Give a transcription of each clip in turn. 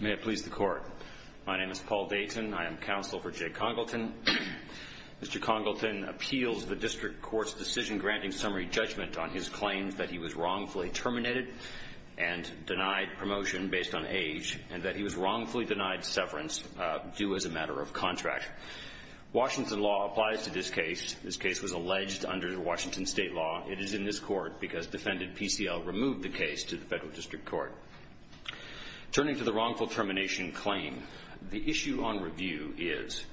Mr. Congleton appeals the district court's decision-granting summary judgment on his claims that he was wrongfully terminated and denied promotion based on age, and that he was wrongfully denied severance due as a matter of contract. Washington law applies to this case. This case was alleged under Washington state law. It is in this court because defendant PCL removed the case to the federal district court. Turning to the wrongful termination claim, the issue on review is,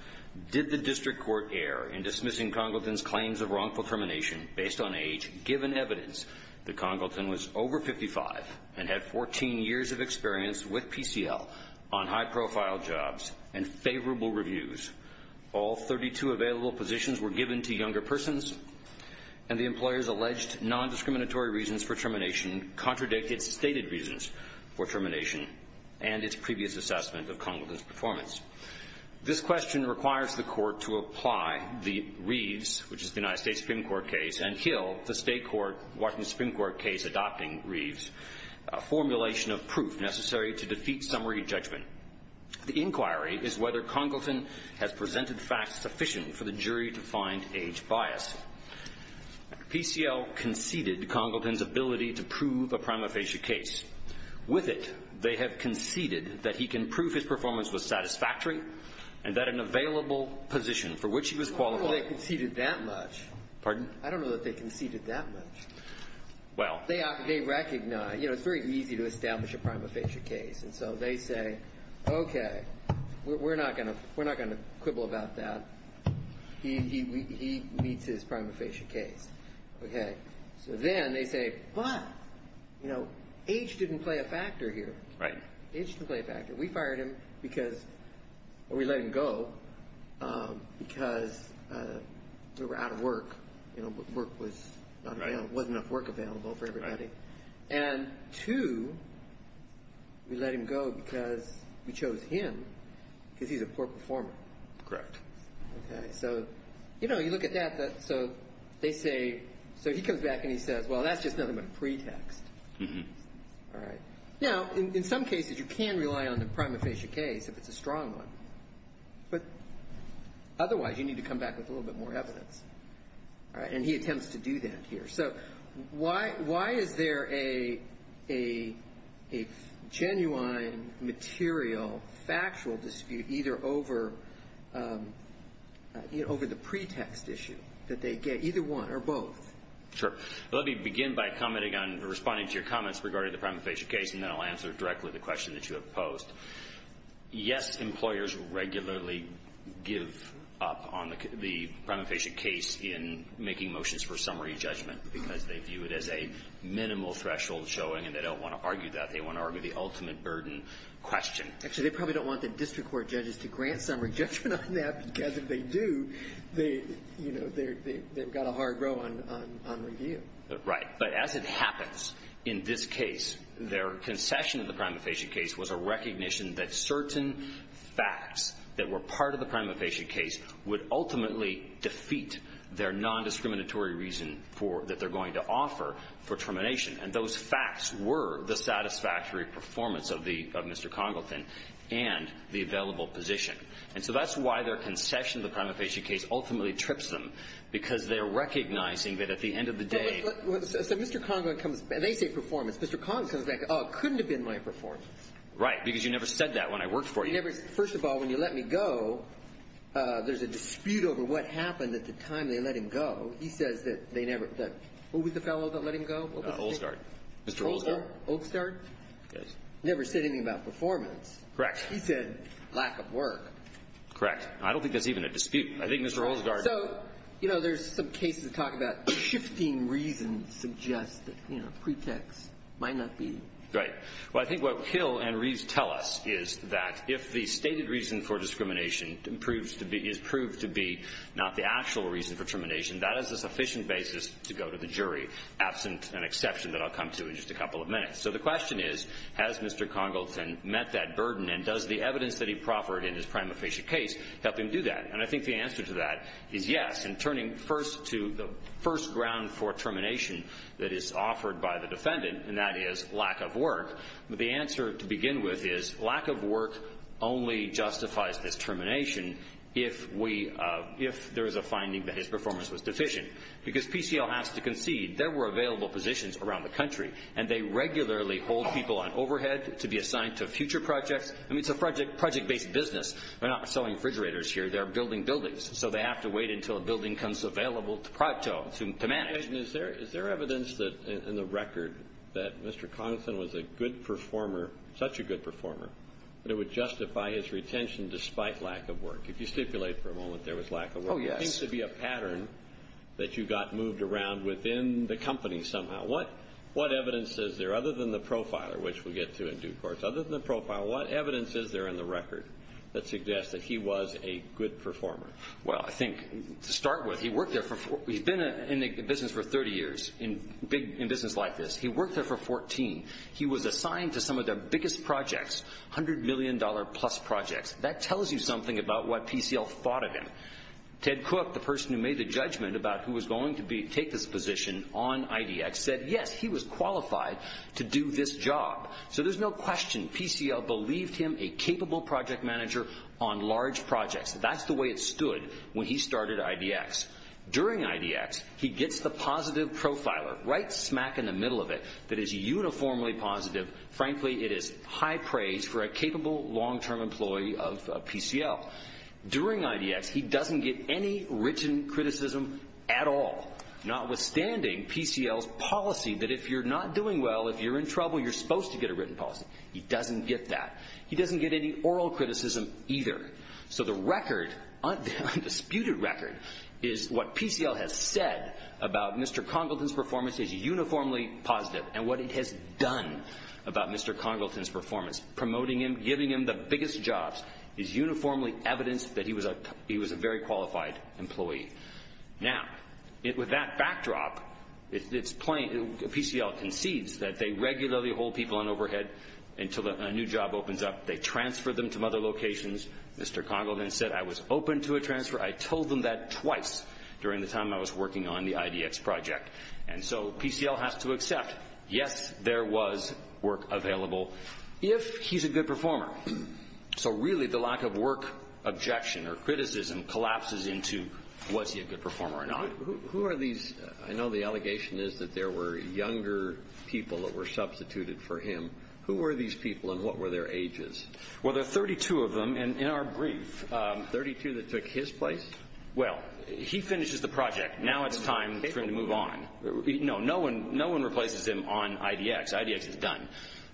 did the district court err in dismissing Congleton's claims of wrongful termination based on age, given evidence that Congleton was over 55 and had 14 years of experience with PCL on high-profile jobs and favorable reviews? All 32 available positions were given to younger persons, and the employer's alleged nondiscriminatory reasons for termination contradict its stated reasons for termination and its previous assessment of Congleton's performance. This question requires the court to apply the Reeves, which is the United States Supreme Court case, and Hill, the state court, Washington Supreme Court case adopting Reeves, a formulation of proof necessary to defeat summary judgment. The inquiry is whether Congleton has presented facts sufficient for the jury to find age bias. PCL conceded Congleton's ability to prove a prima facie case. With it, they have conceded that he can prove his performance was satisfactory and that an available position for which he was qualified was necessary. And so they say, OK, we're not going to we're not going to quibble about that. He meets his prima facie case. OK, so then they say, but, you know, age didn't play a factor here. Right. Age didn't play a factor. We fired him because we let him go because we were out of work. You know, work was wasn't enough work available for everybody. And two, we let him go because we chose him because he's a poor performer. Correct. So, you know, you look at that. So they say so he comes back and he says, well, that's just nothing but a pretext. All right. Now, in some cases, you can rely on the prima facie case if it's a strong one. But otherwise, you need to come back with a little bit more evidence. And he attempts to do that here. So why why is there a a a genuine material factual dispute either over over the pretext issue that they get either one or both? Sure. Let me begin by commenting on responding to your comments regarding the prima facie case, and then I'll answer directly the question that you have posed. Yes, employers regularly give up on the prima facie case in making motions for summary judgment because they view it as a minimal threshold showing. And they don't want to argue that they want to argue the ultimate burden question. Actually, they probably don't want the district court judges to grant summary judgment on that, because if they do, they, you know, they've got a hard row on review. Right. But as it happens in this case, their concession of the prima facie case was a recognition that certain facts that were part of the prima facie case would ultimately defeat their nondiscriminatory reason for that they're going to offer for termination. And those facts were the satisfactory performance of the of Mr. Congleton and the available position. And so that's why their concession. The prima facie case ultimately trips them because they're recognizing that at the end of the day. So, Mr. Congleton comes. They say performance. Mr. Conklin couldn't have been my performance. Right. Because you never said that when I worked for you. First of all, when you let me go, there's a dispute over what happened at the time they let him go. He says that they never, that, who was the fellow that let him go? Olsgaard. Mr. Olsgaard. Olsgaard? Yes. Never said anything about performance. Correct. He said lack of work. Correct. I don't think that's even a dispute. I think Mr. Olsgaard. So, you know, there's some cases talking about shifting reasons suggest that, you know, pretext might not be. Right. Well, I think what Hill and Reeves tell us is that if the stated reason for discrimination is proved to be not the actual reason for termination, that is a sufficient basis to go to the jury, absent an exception that I'll come to in just a couple of minutes. So the question is, has Mr. Congleton met that burden, and does the evidence that he proffered in his prima facie case help him do that? And I think the answer to that is yes. And turning first to the first ground for termination that is offered by the defendant, and that is lack of work, the answer to begin with is lack of work only justifies this termination if there is a finding that his performance was deficient. Because PCL has to concede there were available positions around the country, and they regularly hold people on overhead to be assigned to future projects. I mean, it's a project-based business. They're not selling refrigerators here. They're building buildings, so they have to wait until a building comes available to manage. And is there evidence in the record that Mr. Congleton was a good performer, such a good performer, that it would justify his retention despite lack of work? If you stipulate for a moment there was lack of work. Oh, yes. There seems to be a pattern that you got moved around within the company somehow. What evidence is there, other than the profiler, which we'll get to in due course, other than the profiler, what evidence is there in the record that suggests that he was a good performer? Well, I think to start with, he's been in the business for 30 years, in business like this. He worked there for 14. He was assigned to some of their biggest projects, $100 million-plus projects. That tells you something about what PCL thought of him. Ted Cook, the person who made the judgment about who was going to take this position on IDX, said, yes, he was qualified to do this job. So there's no question PCL believed him, a capable project manager on large projects. That's the way it stood when he started IDX. During IDX, he gets the positive profiler right smack in the middle of it that is uniformly positive. Frankly, it is high praise for a capable long-term employee of PCL. During IDX, he doesn't get any written criticism at all, notwithstanding PCL's policy that if you're not doing well, if you're in trouble, you're supposed to get a written policy. He doesn't get that. He doesn't get any oral criticism either. So the record, undisputed record, is what PCL has said about Mr. Congleton's performance is uniformly positive. And what it has done about Mr. Congleton's performance, promoting him, giving him the biggest jobs, is uniformly evidence that he was a very qualified employee. Now, with that backdrop, PCL concedes that they regularly hold people on overhead until a new job opens up. They transfer them to other locations. Mr. Congleton said, I was open to a transfer. I told them that twice during the time I was working on the IDX project. And so PCL has to accept, yes, there was work available if he's a good performer. So really the lack of work objection or criticism collapses into was he a good performer or not. Who are these? I know the allegation is that there were younger people that were substituted for him. Who were these people and what were their ages? Well, there are 32 of them in our brief. Thirty-two that took his place? Well, he finishes the project. Now it's time for him to move on. No, no one replaces him on IDX. IDX is done.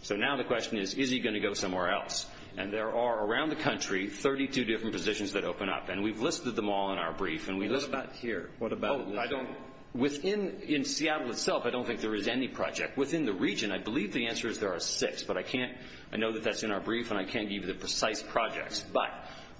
So now the question is, is he going to go somewhere else? And there are, around the country, 32 different positions that open up. And we've listed them all in our brief. What about here? What about within? In Seattle itself, I don't think there is any project. Within the region, I believe the answer is there are six. But I know that that's in our brief and I can't give you the precise projects. But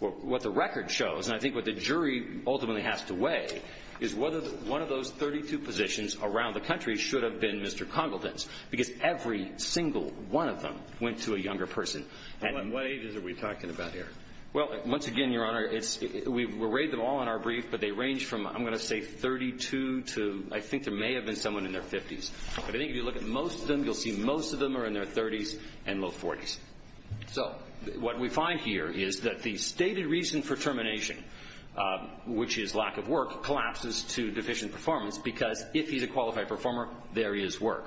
what the record shows, and I think what the jury ultimately has to weigh, is whether one of those 32 positions around the country should have been Mr. Congleton's. Because every single one of them went to a younger person. And what ages are we talking about here? Well, once again, Your Honor, we've arrayed them all in our brief. But they range from, I'm going to say, 32 to I think there may have been someone in their 50s. But I think if you look at most of them, you'll see most of them are in their 30s and low 40s. So what we find here is that the stated reason for termination, which is lack of work, collapses to deficient performance because if he's a qualified performer, there is work.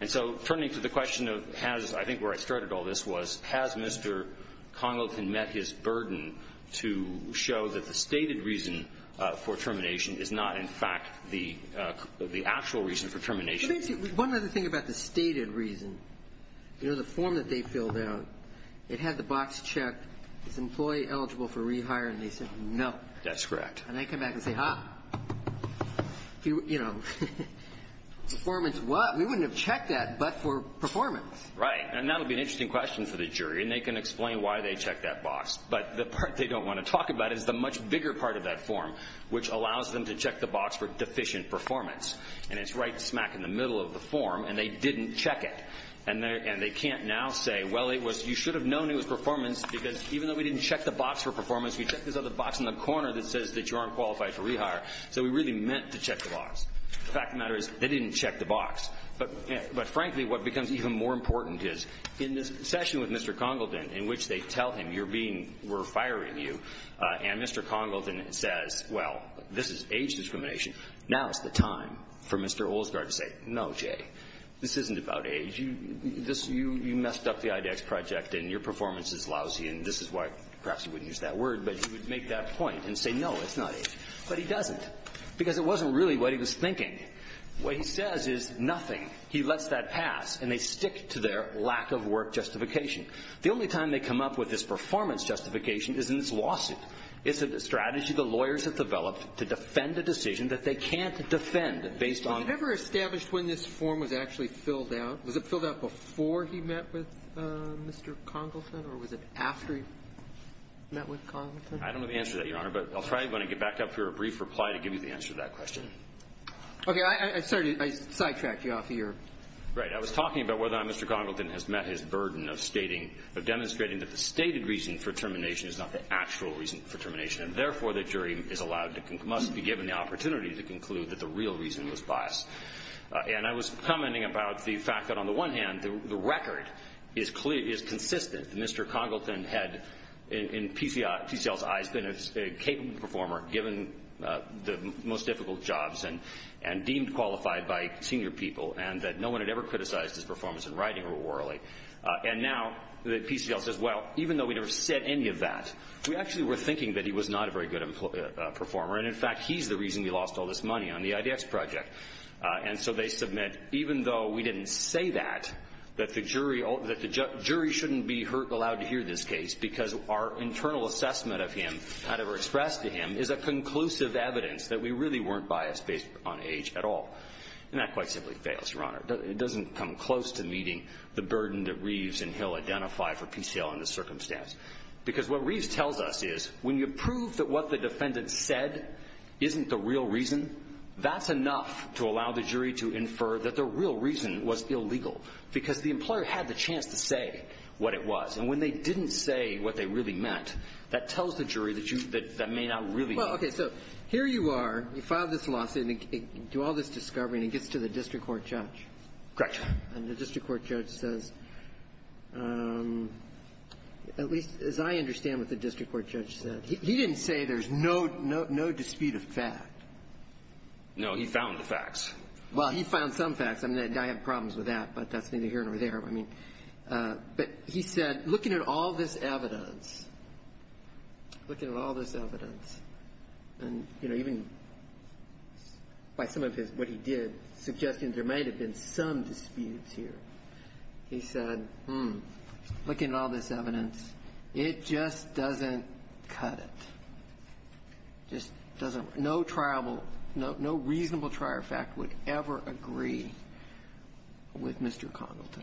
And so turning to the question of, I think where I started all this was, has Mr. Congleton met his burden to show that the stated reason for termination is not in fact the actual reason for termination? One other thing about the stated reason, you know, the form that they filled out, it had the box checked, is the employee eligible for rehire, and they said no. That's correct. And they come back and say, huh, you know, performance what? We wouldn't have checked that but for performance. Right. And that would be an interesting question for the jury, and they can explain why they checked that box. But the part they don't want to talk about is the much bigger part of that form, which allows them to check the box for deficient performance. And it's right smack in the middle of the form, and they didn't check it. And they can't now say, well, you should have known it was performance, because even though we didn't check the box for performance, we checked this other box in the corner that says that you aren't qualified for rehire, so we really meant to check the box. The fact of the matter is they didn't check the box. But, frankly, what becomes even more important is in this session with Mr. Congleton, in which they tell him you're being, we're firing you, and Mr. Congleton says, well, this is age discrimination. Now is the time for Mr. Olsgaard to say, no, Jay, this isn't about age. You messed up the IDEX project and your performance is lousy, and this is why perhaps you wouldn't use that word. But he would make that point and say, no, it's not age. But he doesn't, because it wasn't really what he was thinking. What he says is nothing. He lets that pass, and they stick to their lack of work justification. The only time they come up with this performance justification is in this lawsuit. It's a strategy the lawyers have developed to defend a decision that they can't defend based on the law. Roberts. Did you ever establish when this form was actually filled out? Was it filled out before he met with Mr. Congleton, or was it after he met with Congleton? I don't have the answer to that, Your Honor, but I'll try, when I get back up here, a brief reply to give you the answer to that question. Okay. Sorry to sidetrack you off here. Right. I was talking about whether or not Mr. Congleton has met his burden of stating or demonstrating that the stated reason for termination is not the actual reason for termination, and therefore the jury must be given the opportunity to conclude that the real reason was bias. And I was commenting about the fact that, on the one hand, the record is consistent. Mr. Congleton had, in PCL's eyes, been a capable performer, given the most difficult jobs and deemed qualified by senior people, and that no one had ever criticized his performance in writing or orally. And now PCL says, well, even though we never said any of that, we actually were thinking that he was not a very good performer, and, in fact, he's the reason we lost all this money on the IDX project. And so they submit, even though we didn't say that, that the jury shouldn't be allowed to hear this case because our internal assessment of him, however expressed to him, is a conclusive evidence that we really weren't biased based on age at all. And that quite simply fails, Your Honor. It doesn't come close to meeting the burden that Reeves and Hill identify for PCL in this circumstance. Because what Reeves tells us is, when you prove that what the defendant said isn't the real reason, that's enough to allow the jury to infer that the real reason was illegal, because the employer had the chance to say what it was. And when they didn't say what they really meant, that tells the jury that you – that may not really mean it. Well, okay. So here you are. You filed this lawsuit. You do all this discovery, and it gets to the district court judge. Correct. And the district court judge says, at least as I understand what the district court judge said, he didn't say there's no dispute of fact. No. He found the facts. Well, he found some facts. I mean, I have problems with that, but that's neither here nor there. I mean, but he said, looking at all this evidence, looking at all this evidence, and, you know, even by some of his – what he did, suggesting there might have been some disputes here, he said, hmm, looking at all this evidence, it just doesn't cut it. Just doesn't – no triable – no reasonable trier of fact would ever agree with Mr. Congleton.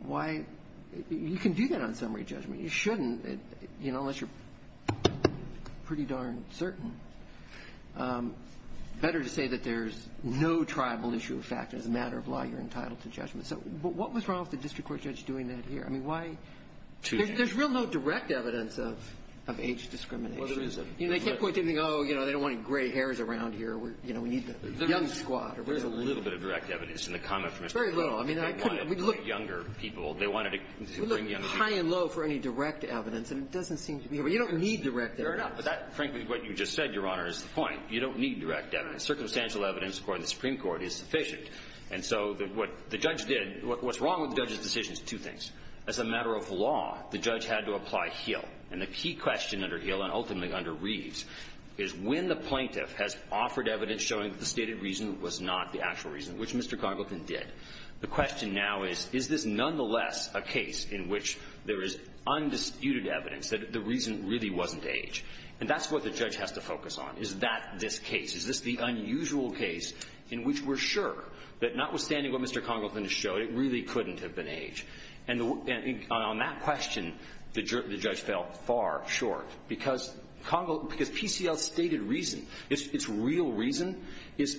Why – you can do that on summary judgment. I mean, you shouldn't, you know, unless you're pretty darn certain. Better to say that there's no triable issue of fact. As a matter of law, you're entitled to judgment. So what was wrong with the district court judge doing that here? I mean, why – there's real low direct evidence of age discrimination. Well, there is a – You know, they can't point to anything, oh, you know, they don't want any gray hairs around here. You know, we need the young squad. There's a little bit of direct evidence in the comment from Mr. Congleton. Very little. I mean, I couldn't – we looked – They wanted younger people. They wanted to bring young people. It's high and low for any direct evidence, and it doesn't seem to be – you don't need direct evidence. Fair enough. But that – frankly, what you just said, Your Honor, is the point. You don't need direct evidence. Circumstantial evidence, according to the Supreme Court, is sufficient. And so what the judge did – what's wrong with the judge's decision is two things. As a matter of law, the judge had to apply Heal. And the key question under Heal and ultimately under Reeves is when the plaintiff has offered evidence showing that the stated reason was not the actual reason, which Mr. Congleton did, the question now is, is this nonetheless a case in which there is undisputed evidence that the reason really wasn't age? And that's what the judge has to focus on. Is that this case? Is this the unusual case in which we're sure that notwithstanding what Mr. Congleton has showed, it really couldn't have been age? And on that question, the judge fell far short because PCL's stated reason, its real reason, is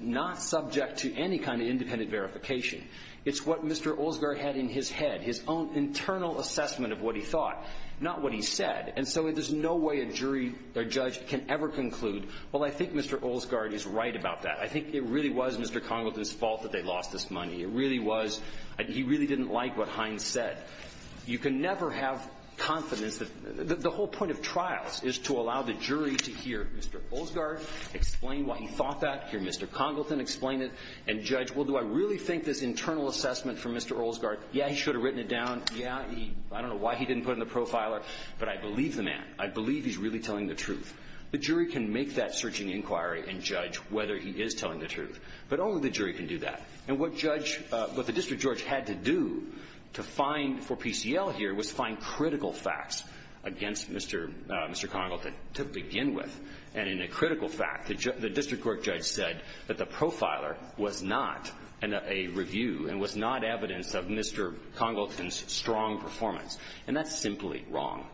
not subject to any kind of independent verification. It's what Mr. Olsgaard had in his head, his own internal assessment of what he thought, not what he said. And so there's no way a jury or judge can ever conclude, well, I think Mr. Olsgaard is right about that. I think it really was Mr. Congleton's fault that they lost this money. It really was – he really didn't like what Hines said. You can never have confidence that – the whole point of trials is to allow the jury to hear Mr. Olsgaard explain what he thought that, hear Mr. Congleton explain it, and judge, well, do I really think this internal assessment from Mr. Olsgaard, yeah, he should have written it down, yeah, I don't know why he didn't put it in the profiler, but I believe the man. I believe he's really telling the truth. The jury can make that searching inquiry and judge whether he is telling the truth, but only the jury can do that. And what judge – what the district judge had to do to find for PCL here was find critical facts against Mr. Congleton to begin with. And in a critical fact, the district court judge said that the profiler was not a review and was not evidence of Mr. Congleton's strong performance. And that's simply wrong.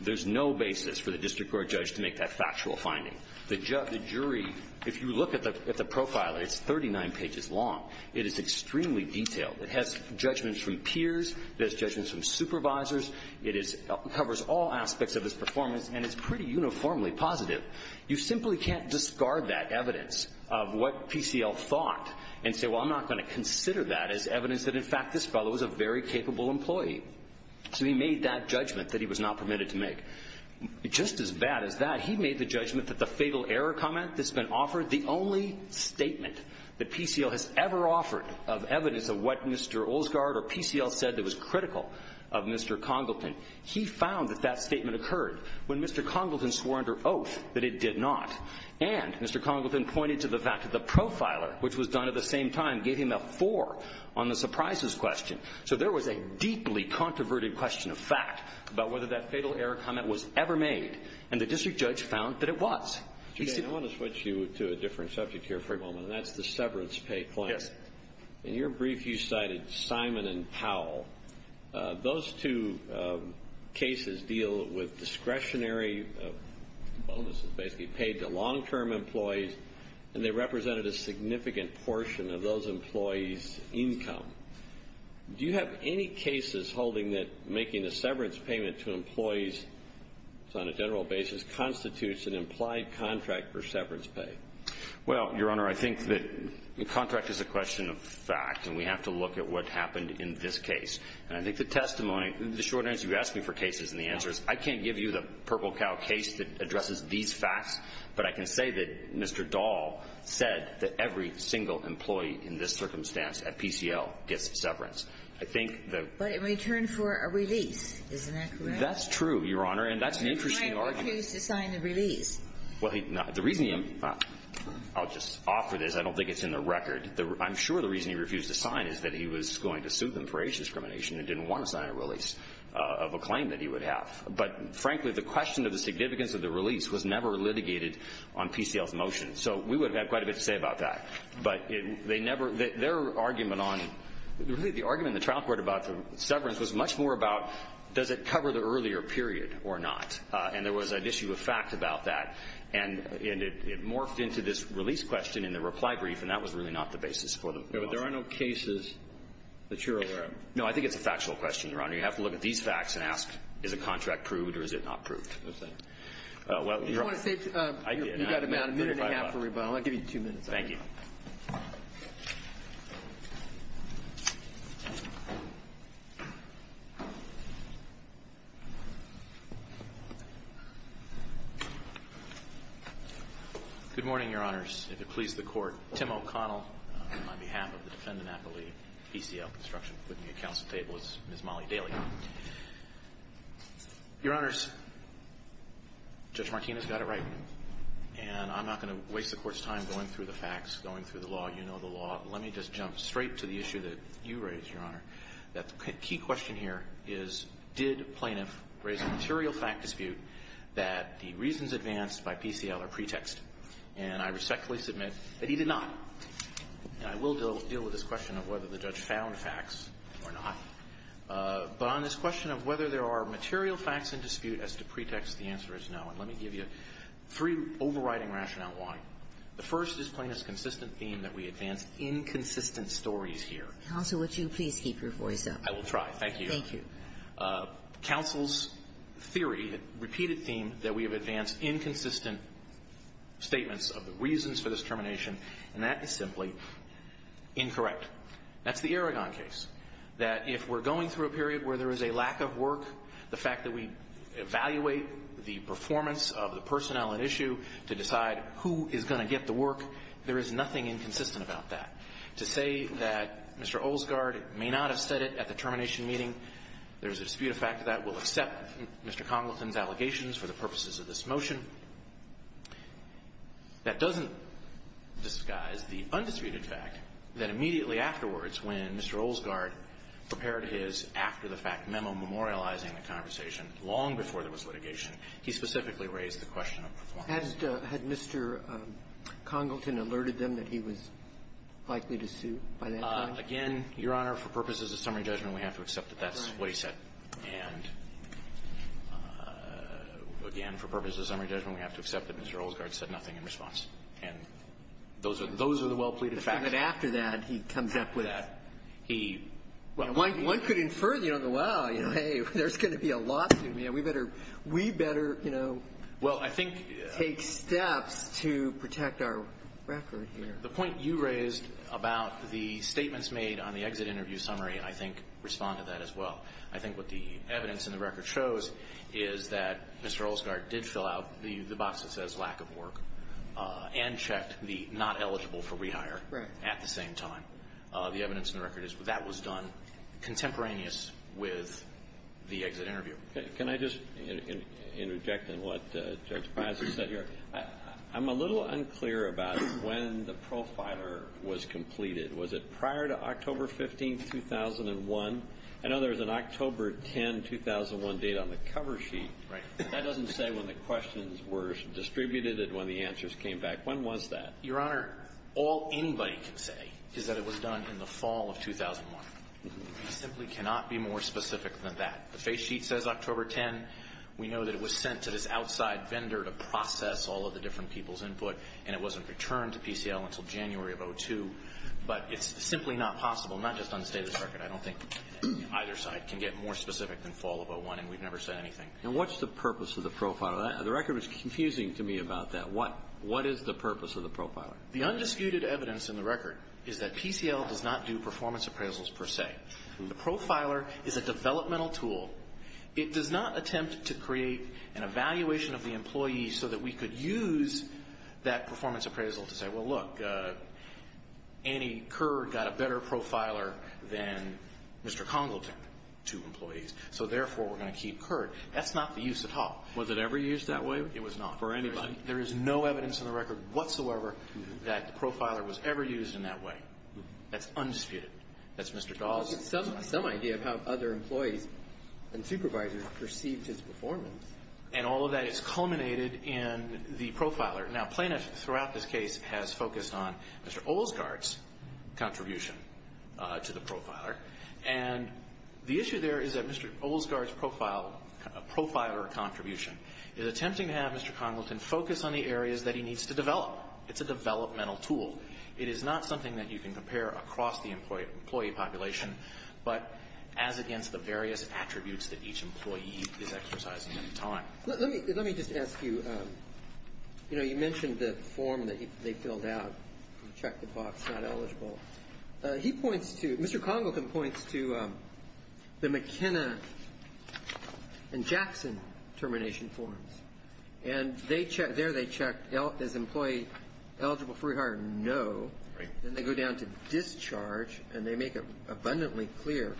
There's no basis for the district court judge to make that factual finding. The jury – if you look at the profiler, it's 39 pages long. It is extremely detailed. It has judgments from peers. It has judgments from supervisors. It covers all aspects of his performance, and it's pretty uniformly positive. You simply can't discard that evidence of what PCL thought and say, well, I'm not going to consider that as evidence that, in fact, this fellow is a very capable employee. So he made that judgment that he was not permitted to make. Just as bad as that, he made the judgment that the fatal error comment that's been offered, the only statement that PCL has ever offered of evidence of what Mr. Olsgaard or PCL said that was critical of Mr. Congleton, he found that that statement occurred when Mr. Congleton swore under oath that it did not. And Mr. Congleton pointed to the fact that the profiler, which was done at the same time, gave him a four on the surprises question. So there was a deeply controverted question of fact about whether that fatal error comment was ever made, and the district judge found that it was. I want to switch you to a different subject here for a moment, and that's the severance claim. Yes. In your brief, you cited Simon and Powell. Those two cases deal with discretionary bonuses basically paid to long-term employees, and they represented a significant portion of those employees' income. Do you have any cases holding that making a severance payment to employees on a general basis constitutes an implied contract for severance pay? Well, Your Honor, I think that the contract is a question of fact, and we have to look at what happened in this case. And I think the testimony, the short answer you asked me for cases and the answer is I can't give you the purple cow case that addresses these facts, but I can say that Mr. Dahl said that every single employee in this circumstance at PCL gets severance. I think the ---- But in return for a release. Isn't that correct? That's true, Your Honor, and that's an interesting argument. Why would he choose to sign the release? Well, the reason he ---- I'll just offer this. I don't think it's in the record. I'm sure the reason he refused to sign is that he was going to sue them for age discrimination and didn't want to sign a release of a claim that he would have. But, frankly, the question of the significance of the release was never litigated on PCL's motion. So we would have quite a bit to say about that. But they never ---- their argument on ---- the argument in the trial court about the severance was much more about does it cover the earlier period or not. And there was an issue of fact about that. And it morphed into this release question in the reply brief, and that was really not the basis for the ---- But there are no cases that you're aware of. No. I think it's a factual question, Your Honor. You have to look at these facts and ask is a contract proved or is it not proved. Okay. Well, Your Honor, I did. You've got about a minute and a half for rebuttal. I'll give you two minutes. Thank you. Good morning, Your Honors. If it pleases the Court, Tim O'Connell on behalf of the defendant appellee, PCL Construction, putting the accounts at the table. It's Ms. Molly Daly. Your Honors, Judge Martinez got it right, and I'm not going to waste the Court's going through the law. You know the law. Let me just jump straight to the issue that you raised, Your Honor. The key question here is did plaintiff raise a material fact dispute that the reasons advanced by PCL are pretext? And I respectfully submit that he did not. And I will deal with this question of whether the judge found facts or not. But on this question of whether there are material facts in dispute as to pretext, the answer is no. And let me give you three overriding rationale why. The first is plaintiff's consistent theme that we advance inconsistent stories here. Counsel, would you please keep your voice up? I will try. Thank you. Thank you. Counsel's theory, repeated theme, that we have advanced inconsistent statements of the reasons for this termination, and that is simply incorrect. That's the Aragon case, that if we're going through a period where there is a lack of work, the fact that we evaluate the performance of the personnel at issue to decide who is going to get the work, there is nothing inconsistent about that. To say that Mr. Olsgaard may not have said it at the termination meeting, there's a dispute of fact that will accept Mr. Congleton's allegations for the purposes of this motion. That doesn't disguise the undisputed fact that immediately afterwards, when Mr. Olsgaard prepared his after-the-fact memo memorializing the conversation long before there was litigation, he specifically raised the question of performance. Had Mr. Congleton alerted them that he was likely to sue by that time? Again, Your Honor, for purposes of summary judgment, we have to accept that that's what he said. And again, for purposes of summary judgment, we have to accept that Mr. Olsgaard said nothing in response. And those are the well-pleaded facts. But after that, he comes up with that. He — Well, one could infer, you know, wow, hey, there's going to be a lawsuit. We better — we better, you know — Well, I think —— take steps to protect our record here. The point you raised about the statements made on the exit interview summary, I think, respond to that as well. I think what the evidence in the record shows is that Mr. Olsgaard did fill out the box that says lack of work and checked the not eligible for rehire at the same time. The evidence in the record is that was done contemporaneous with the exit interview. Can I just interject in what Judge Fizer said here? I'm a little unclear about when the profiler was completed. Was it prior to October 15, 2001? I know there was an October 10, 2001 date on the cover sheet. Right. That doesn't say when the questions were distributed and when the answers came back. When was that? Your Honor, all anybody can say is that it was done in the fall of 2001. We simply cannot be more specific than that. The face sheet says October 10. We know that it was sent to this outside vendor to process all of the different people's input and it wasn't returned to PCL until January of 2002. But it's simply not possible, not just on the state of this record. I don't think either side can get more specific than fall of 2001 and we've never said anything. And what's the purpose of the profiler? The record was confusing to me about that. What is the purpose of the profiler? The undisputed evidence in the record is that PCL does not do performance appraisals per se. The profiler is a developmental tool. It does not attempt to create an evaluation of the employee so that we could use that performance appraisal to say, well look, Annie Kerr got a better profiler than Mr. Congleton, two employees. So therefore, we're going to keep Kerr. That's not the use at all. Was it ever used that way? It was not. For anybody? There is no evidence in the record whatsoever that the profiler was ever used in that way. That's undisputed. That's Mr. Dawes. Some idea of how other employees and supervisors perceived his performance. And all of that is culminated in the profiler. Now, plaintiffs throughout this case has focused on Mr. Olsgaard's contribution to the profiler. And the issue there is that Mr. Olsgaard's profiler contribution is attempting to have Mr. Congleton focus on the areas that he needs to develop. It's a developmental tool. It is not something that you can compare across the employee population. But as against the various attributes that each employee is exercising at the time. Let me just ask you, you know, you mentioned the form that they filled out, check the box, not eligible. He points to, Mr. Congleton points to the McKenna and Jackson termination forms. And there they check, is employee eligible for rehire? No. Then they go down to discharge. And they make it abundantly clear.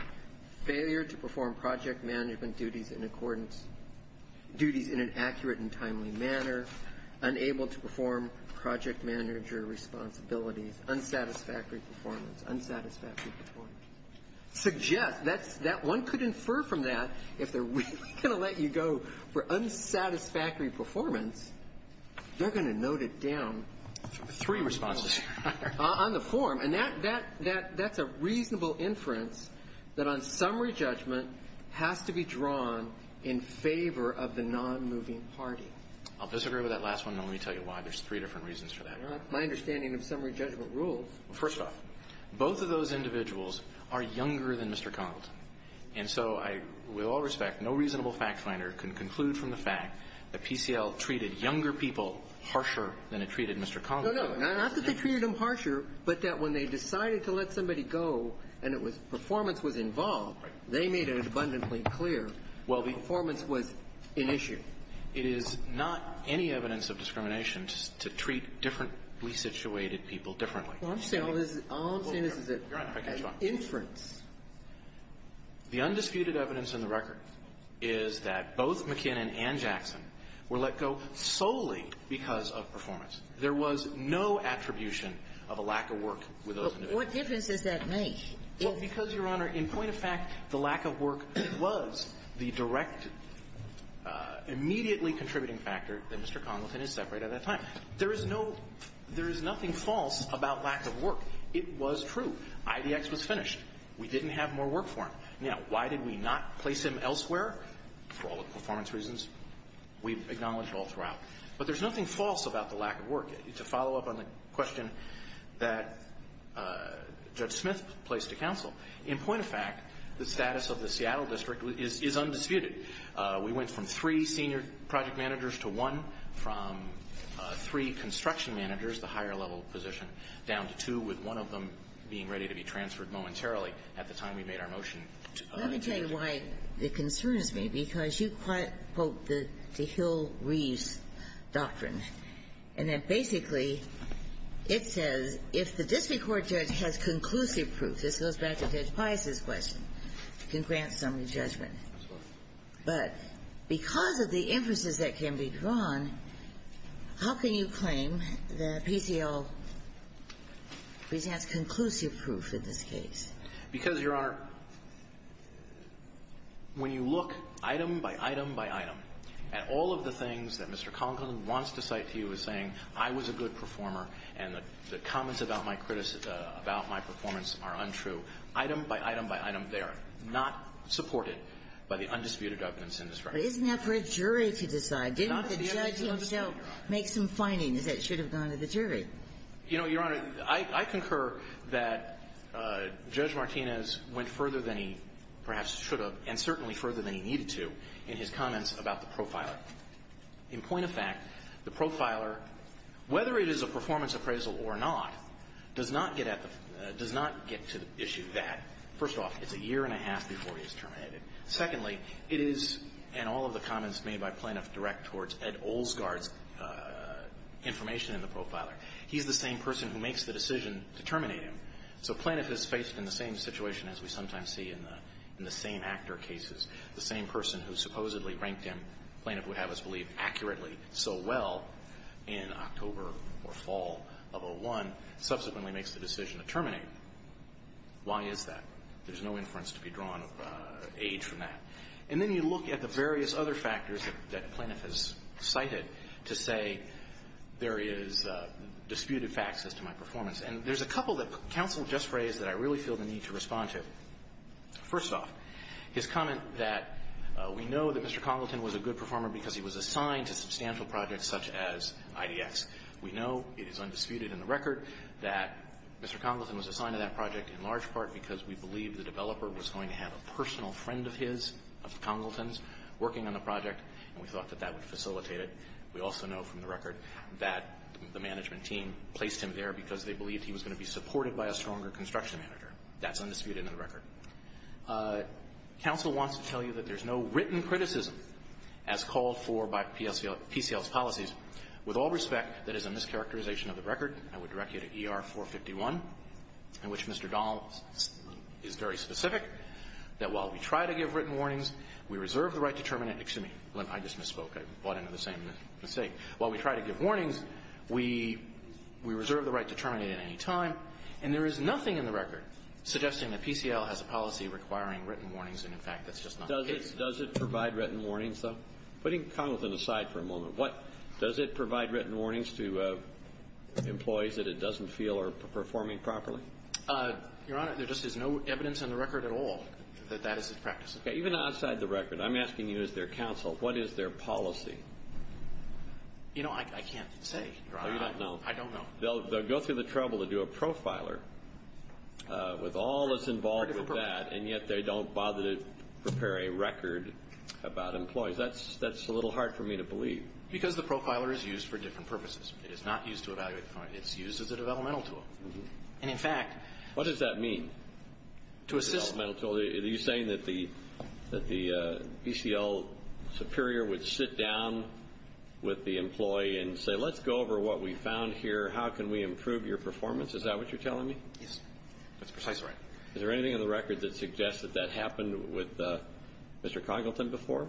Failure to perform project management duties in accordance, duties in an accurate and timely manner. Unable to perform project manager responsibilities. Unsatisfactory performance. Unsatisfactory performance. Suggest, one could infer from that, if they're really going to let you go for unsatisfactory performance, they're going to note it down. Three responses. On the form. And that's a reasonable inference that on summary judgment has to be drawn in favor of the non-moving party. I'll disagree with that last one, and let me tell you why. There's three different reasons for that. My understanding of summary judgment rules. First off, both of those individuals are younger than Mr. Congleton. And so I, with all respect, no reasonable fact finder can conclude from the fact that PCL treated younger people harsher than it treated Mr. Congleton. No, no. Not that they treated them harsher, but that when they decided to let somebody go and it was performance was involved, they made it abundantly clear performance was an issue. It is not any evidence of discrimination to treat differently situated people differently. All I'm saying is that inference. The undisputed evidence in the record is that both McKinnon and Jackson were let go solely because of performance. There was no attribution of a lack of work with those individuals. What difference does that make? Well, because, Your Honor, in point of fact, the lack of work was the direct immediately contributing factor that Mr. Congleton is separate at that time. There is no, there is nothing false about lack of work. It was true. IDX was finished. We didn't have more work for him. Now, why did we not place him elsewhere? For all the performance reasons, we acknowledge all throughout. But there's nothing false about the lack of work. To follow up on the question that Judge Smith placed to counsel, in point of fact, the status of the Seattle District is undisputed. We went from three senior project managers to one, from three construction managers, the higher level position, down to two, with one of them being ready to be transferred momentarily at the time we made our motion. Let me tell you why it concerns me, because you quote the Hill-Reeves doctrine. And that basically it says if the district court judge has conclusive proof, this goes back to Judge Pius' question, you can grant summary judgment. But because of the inferences that can be drawn, how can you claim that PCL presents conclusive proof in this case? Because, Your Honor, when you look item by item by item at all of the things that Mr. Congleton wants to cite to you as saying I was a good performer and the comments about my performance are untrue, item by item by item, they are not supported. By the undisputed evidence in this record. But isn't that for a jury to decide? Didn't the judge himself make some findings that should have gone to the jury? You know, Your Honor, I concur that Judge Martinez went further than he perhaps should have and certainly further than he needed to in his comments about the profiler. In point of fact, the profiler, whether it is a performance appraisal or not, does not get at the – does not get to the issue that, first off, it's a year and a half before he is terminated. Secondly, it is – and all of the comments made by plaintiff direct towards Ed Olsgaard's information in the profiler. He's the same person who makes the decision to terminate him. So plaintiff is faced in the same situation as we sometimes see in the same actor cases. The same person who supposedly ranked him, plaintiff would have us believe accurately so well, in October or fall of 01, subsequently makes the decision to terminate him. Why is that? There's no inference to be drawn of age from that. And then you look at the various other factors that plaintiff has cited to say there is disputed facts as to my performance. And there's a couple that counsel just raised that I really feel the need to respond to. First off, his comment that we know that Mr. Congleton was a good performer because he was assigned to substantial projects such as IDX. We know it is undisputed in the record that Mr. Congleton was assigned to that project in large part because we believe the developer was going to have a personal friend of his, of Congleton's, working on the project. And we thought that that would facilitate it. We also know from the record that the management team placed him there because they believed he was going to be supported by a stronger construction manager. Counsel wants to tell you that there's no written criticism as called for by PCL's policies. With all respect, that is a mischaracterization of the record. I would direct you to ER 451, in which Mr. Donnell is very specific, that while we try to give written warnings, we reserve the right to terminate. Excuse me. I just misspoke. I bought into the same mistake. While we try to give warnings, we reserve the right to terminate at any time. And there is nothing in the record suggesting that PCL has a policy requiring written warnings, and, in fact, that's just not the case. Does it provide written warnings, though? Putting Congleton aside for a moment, does it provide written warnings to employees that it doesn't feel are performing properly? Your Honor, there just is no evidence in the record at all that that is the practice. Even outside the record, I'm asking you as their counsel, what is their policy? You know, I can't say, Your Honor. Oh, you don't know. I don't know. They'll go through the trouble to do a profiler with all that's involved with that, and yet they don't bother to prepare a record about employees. That's a little hard for me to believe. Because the profiler is used for different purposes. It is not used to evaluate the client. It's used as a developmental tool. And, in fact... What does that mean? To assist... Are you saying that the ECL superior would sit down with the employee and say, let's go over what we found here. How can we improve your performance? Is that what you're telling me? Yes. That's precisely right. Is there anything in the record that suggests that that happened with Mr. Congleton before?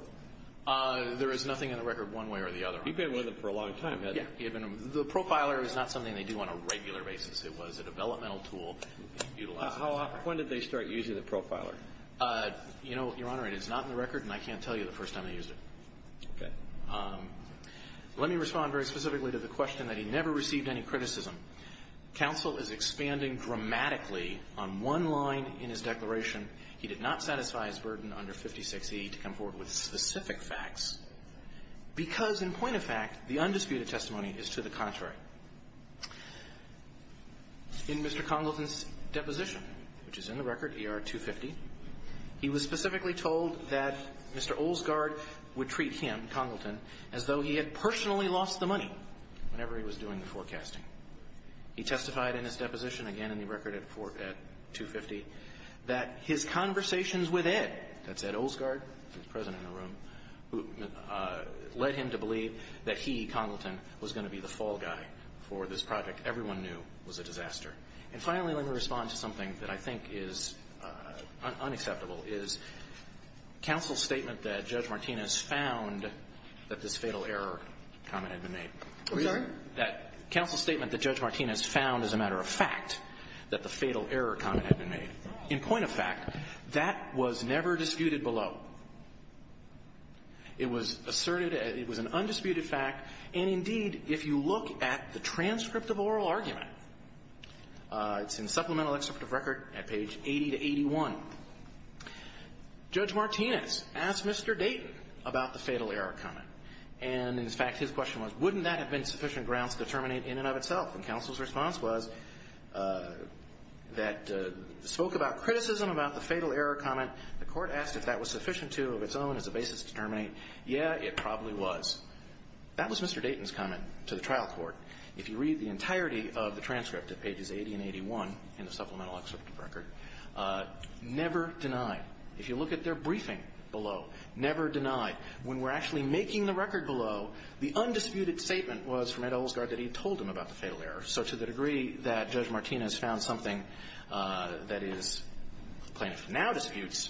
There is nothing in the record one way or the other. You've been with him for a long time, haven't you? Yeah. The profiler is not something they do on a regular basis. It was a developmental tool. When did they start using the profiler? Your Honor, it is not in the record, and I can't tell you the first time they used it. Okay. Let me respond very specifically to the question that he never received any criticism. Counsel is expanding dramatically on one line in his declaration. He did not satisfy his burden under 56E to come forward with specific facts. Because, in point of fact, the undisputed testimony is to the contrary. In Mr. Congleton's deposition, which is in the record, ER 250, he was specifically told that Mr. Olsgaard would treat him, Congleton, as though he had personally lost the money whenever he was doing the forecasting. He testified in his deposition, again in the record at 250, that his conversations with Ed, that's Ed Olsgaard, the President in the room, led him to believe that he, Congleton, was going to be the fall guy for this project everyone knew was a disaster. And finally, let me respond to something that I think is unacceptable, is counsel's statement that Judge Martinez found that this fatal error comment had been made. I'm sorry? Counsel's statement that Judge Martinez found, as a matter of fact, that the fatal error comment had been made. In point of fact, that was never disputed below. It was asserted, it was an undisputed fact, and indeed, if you look at the transcript of oral argument, it's in Supplemental Excerpt of Record at page 80 to 81, Judge Martinez asked Mr. Dayton about the fatal error comment. And in fact, his question was, wouldn't that have been sufficient grounds to terminate in and of itself? And counsel's response was, that spoke about criticism about the fatal error comment, the court asked if that was sufficient to, of its own, as a basis to terminate, yeah, it probably was. That was Mr. Dayton's comment to the trial court. If you read the entirety of the transcript at pages 80 and 81 in the Supplemental Excerpt of Record, never deny. If you look at their briefing below, never deny. When we're actually making the record below, the undisputed statement was from Ed Olsgaard that he had told him about the fatal error. So to the degree that Judge Martinez found something that is plaintiff now disputes,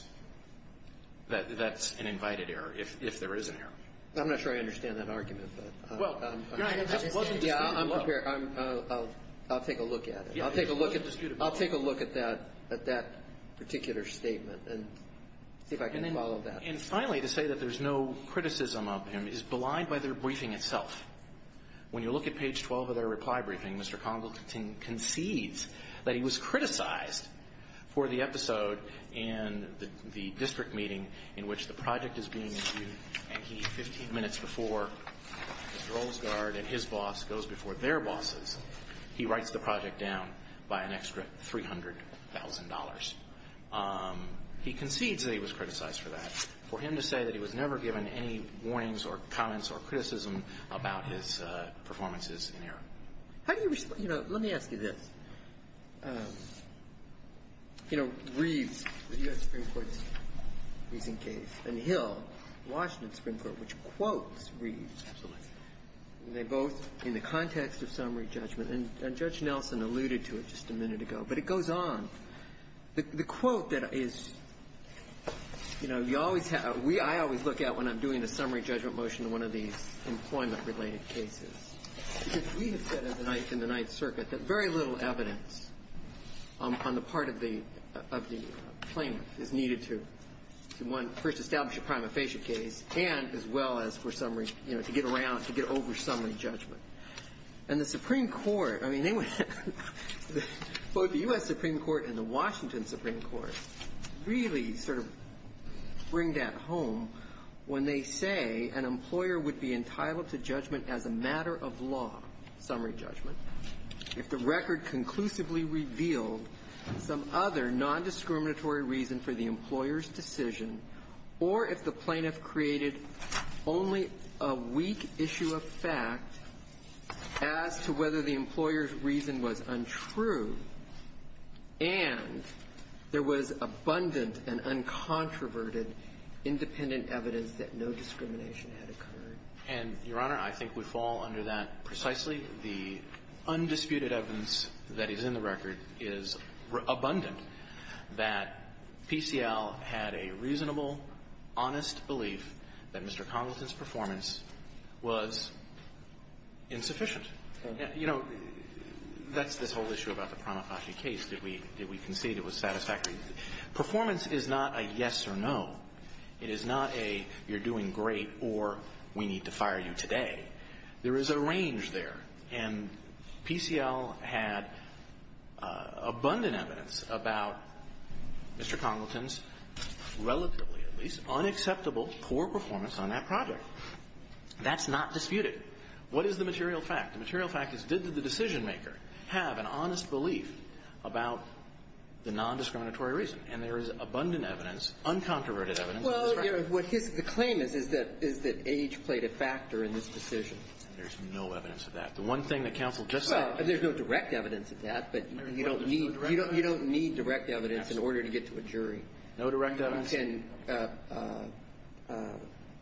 that's an invited error, if there is an error. I'm not sure I understand that argument. Well, that wasn't disputable. I'll take a look at it. It wasn't disputable. I'll take a look at that particular statement and see if I can follow that. And finally, to say that there's no criticism of him is blind by their briefing When you look at page 12 of their reply briefing, Mr. Congleton concedes that he was criticized for the episode in the district meeting in which the project is being reviewed, and he, 15 minutes before Mr. Olsgaard and his boss goes before their bosses, he writes the project down by an extra $300,000. He concedes that he was criticized for that, for him to say that he was never given any warnings or comments or criticism about his performances in error. How do you respond? You know, let me ask you this. You know, Reeves, the U.S. Supreme Court's recent case, and Hill, Washington Supreme Court, which quotes Reeves. Absolutely. They both, in the context of summary judgment, and Judge Nelson alluded to it just a minute ago, but it goes on. The quote that is, you know, you always have we always look at when I'm doing a summary judgment motion in one of these employment-related cases, because we have said in the Ninth Circuit that very little evidence on the part of the plaintiff is needed to first establish a prima facie case, and as well as for summary, you know, to get around, to get over summary judgment. And the Supreme Court, I mean, both the U.S. Supreme Court and the Washington Supreme Court really sort of bring that home when they say an employer would be entitled to judgment as a matter of law, summary judgment, if the record conclusively revealed some other nondiscriminatory reason for the employer's decision, or if the plaintiff created only a weak issue of fact as to whether the employer's reason was untrue, and there was abundant and uncontroverted independent evidence that no discrimination had occurred. And, Your Honor, I think we fall under that precisely. The undisputed evidence that is in the record is abundant that PCL had a reasonable, honest belief that Mr. Congleton's performance was insufficient. You know, that's this whole issue about the prima facie case. Did we concede it was satisfactory? Performance is not a yes or no. It is not a you're doing great or we need to fire you today. There is a range there. And PCL had abundant evidence about Mr. Congleton's relatively, at least, unacceptable poor performance on that project. That's not disputed. What is the material fact? The material fact is, did the decisionmaker have an honest belief about the nondiscriminatory reason? And there is abundant evidence, uncontroverted evidence. Well, Your Honor, what his claim is, is that age played a factor in this decision. There's no evidence of that. The one thing that counsel just said. Well, there's no direct evidence of that, but you don't need direct evidence in order to get to a jury. No direct evidence? One can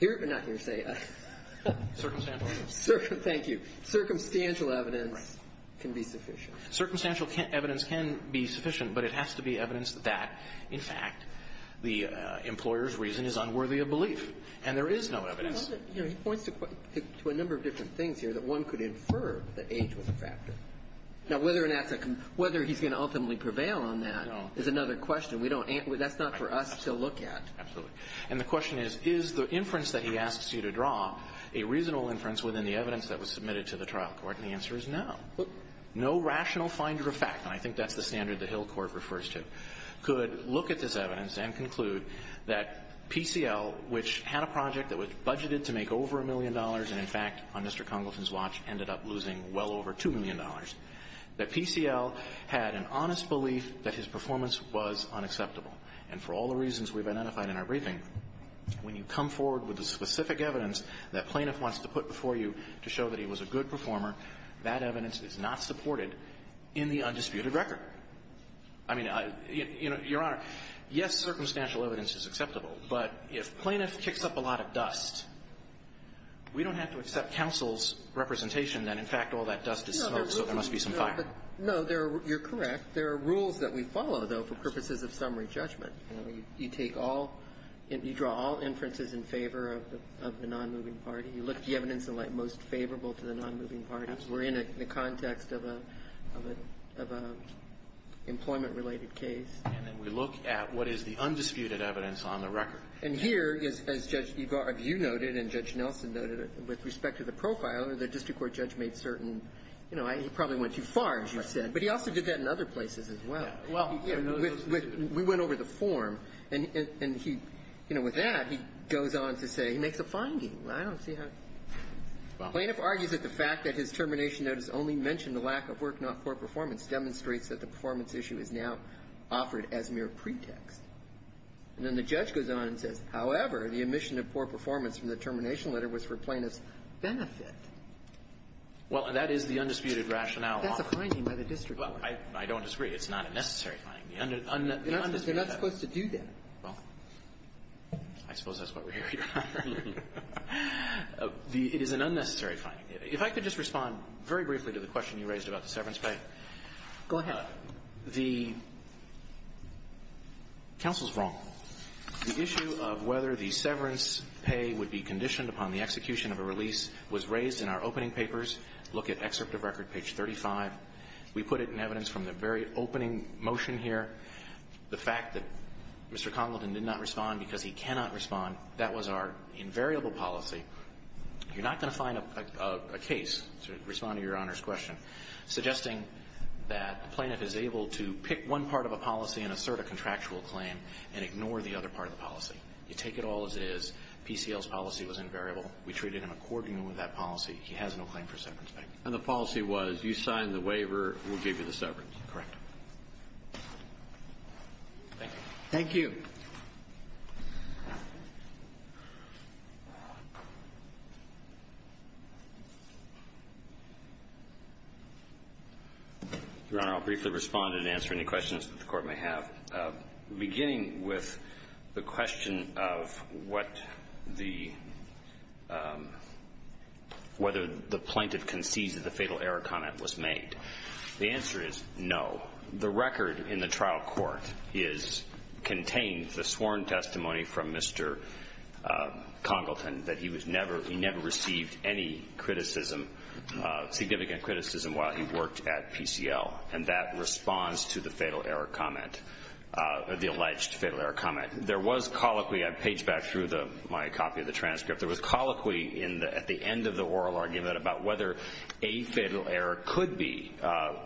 hear it, but not hear say it. Circumstantial evidence. Thank you. Circumstantial evidence can be sufficient. Circumstantial evidence can be sufficient, but it has to be evidence that, in fact, the employer's reason is unworthy of belief. And there is no evidence. He points to a number of different things here that one could infer that age was a factor. Now, whether he's going to ultimately prevail on that is another question. That's not for us to look at. Absolutely. And the question is, is the inference that he asks you to draw a reasonable inference within the evidence that was submitted to the trial court? And the answer is no. No rational finder of fact, and I think that's the standard that Hill Court refers to, could look at this evidence and conclude that PCL, which had a project that was budgeted to make over a million dollars and, in fact, on Mr. Congleton's watch, ended up losing well over $2 million, that PCL had an honest belief that his performance was unacceptable. And for all the reasons we've identified in our briefing, when you come forward with the specific evidence that plaintiff wants to put before you to show that he was a good performer, that evidence is not supported in the undisputed record. I mean, Your Honor, yes, circumstantial evidence is acceptable, but if plaintiff kicks up a lot of dust, we don't have to accept counsel's representation that, in fact, all that dust is smoke, so there must be some fire. No, you're correct. There are rules that we follow, though, for purposes of summary judgment. You take all you draw all inferences in favor of the nonmoving party. You look at the evidence in light most favorable to the nonmoving party. We're in the context of a employment-related case. And then we look at what is the undisputed evidence on the record. And here is, as Judge Yu noted and Judge Nelson noted, with respect to the profiler, the district court judge made certain, you know, he probably went too far, as you said, but he also did that in other places as well. We went over the form. And he, you know, with that, he goes on to say he makes a finding. I don't see how. Plaintiff argues that the fact that his termination notice only mentioned the lack of work, not poor performance, demonstrates that the performance issue is now offered as mere pretext. And then the judge goes on and says, however, the omission of poor performance from the termination letter was for plaintiff's benefit. Well, that is the undisputed rationale. That's a finding by the district court. Well, I don't disagree. It's not a necessary finding. The undisputed rationale. They're not supposed to do that. Well, I suppose that's what we're here for. It is an unnecessary finding. If I could just respond very briefly to the question you raised about the severance Go ahead. The counsel's wrong. The issue of whether the severance pay would be conditioned upon the execution of a release was raised in our opening papers. Look at excerpt of record, page 35. We put it in evidence from the very opening motion here. The fact that Mr. Congleton did not respond because he cannot respond, that was our invariable policy. You're not going to find a case to respond to Your Honor's question suggesting that the plaintiff is able to pick one part of a policy and assert a contractual claim and ignore the other part of the policy. You take it all as it is. PCL's policy was invariable. We treated him accordingly with that policy. He has no claim for severance pay. And the policy was you sign the waiver, we'll give you the severance. Correct. Thank you. Thank you. Your Honor, I'll briefly respond and answer any questions that the Court may have. Beginning with the question of what the, whether the plaintiff concedes that the fatal error comment was made. The answer is no. I believe in the sworn testimony from Mr. Congleton that he was never, he never received any criticism, significant criticism while he worked at PCL. And that responds to the fatal error comment, the alleged fatal error comment. There was colloquy, I page back through my copy of the transcript, there was colloquy at the end of the oral argument about whether a fatal error could be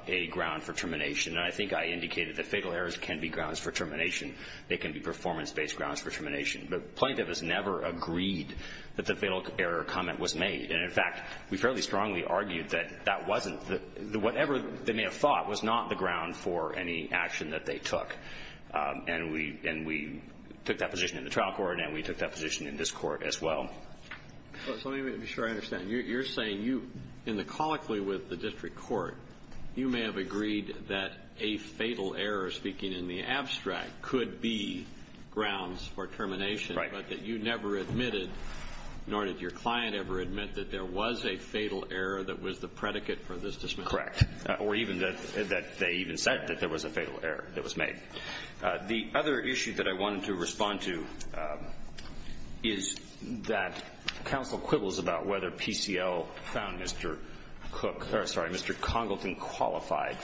a ground for termination. And I think I indicated that fatal errors can be grounds for termination. They can be performance-based grounds for termination. The plaintiff has never agreed that the fatal error comment was made. And, in fact, we fairly strongly argued that that wasn't, that whatever they may have thought was not the ground for any action that they took. And we took that position in the trial court and we took that position in this court as well. So let me make sure I understand. You're saying you, in the colloquy with the district court, you may have agreed that a fatal error could be grounds for termination, but that you never admitted, nor did your client ever admit, that there was a fatal error that was the predicate for this dismissal? Correct. Or even that they even said that there was a fatal error that was made. The other issue that I wanted to respond to is that counsel quibbles about whether PCL found Mr. Cook, sorry, Mr. Congleton qualified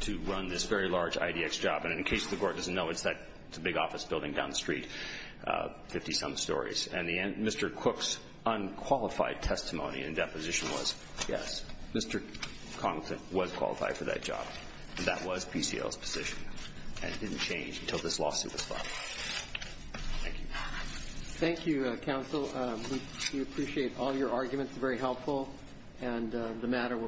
to run this very large IDX job. And in case the Court doesn't know, it's that big office building down the street, 50-some stories. And Mr. Cook's unqualified testimony and deposition was, yes, Mr. Congleton was qualified for that job. That was PCL's position. And it didn't change until this lawsuit was filed. Thank you. Thank you, counsel. We appreciate all your arguments. They're very helpful. And the matter will proceed.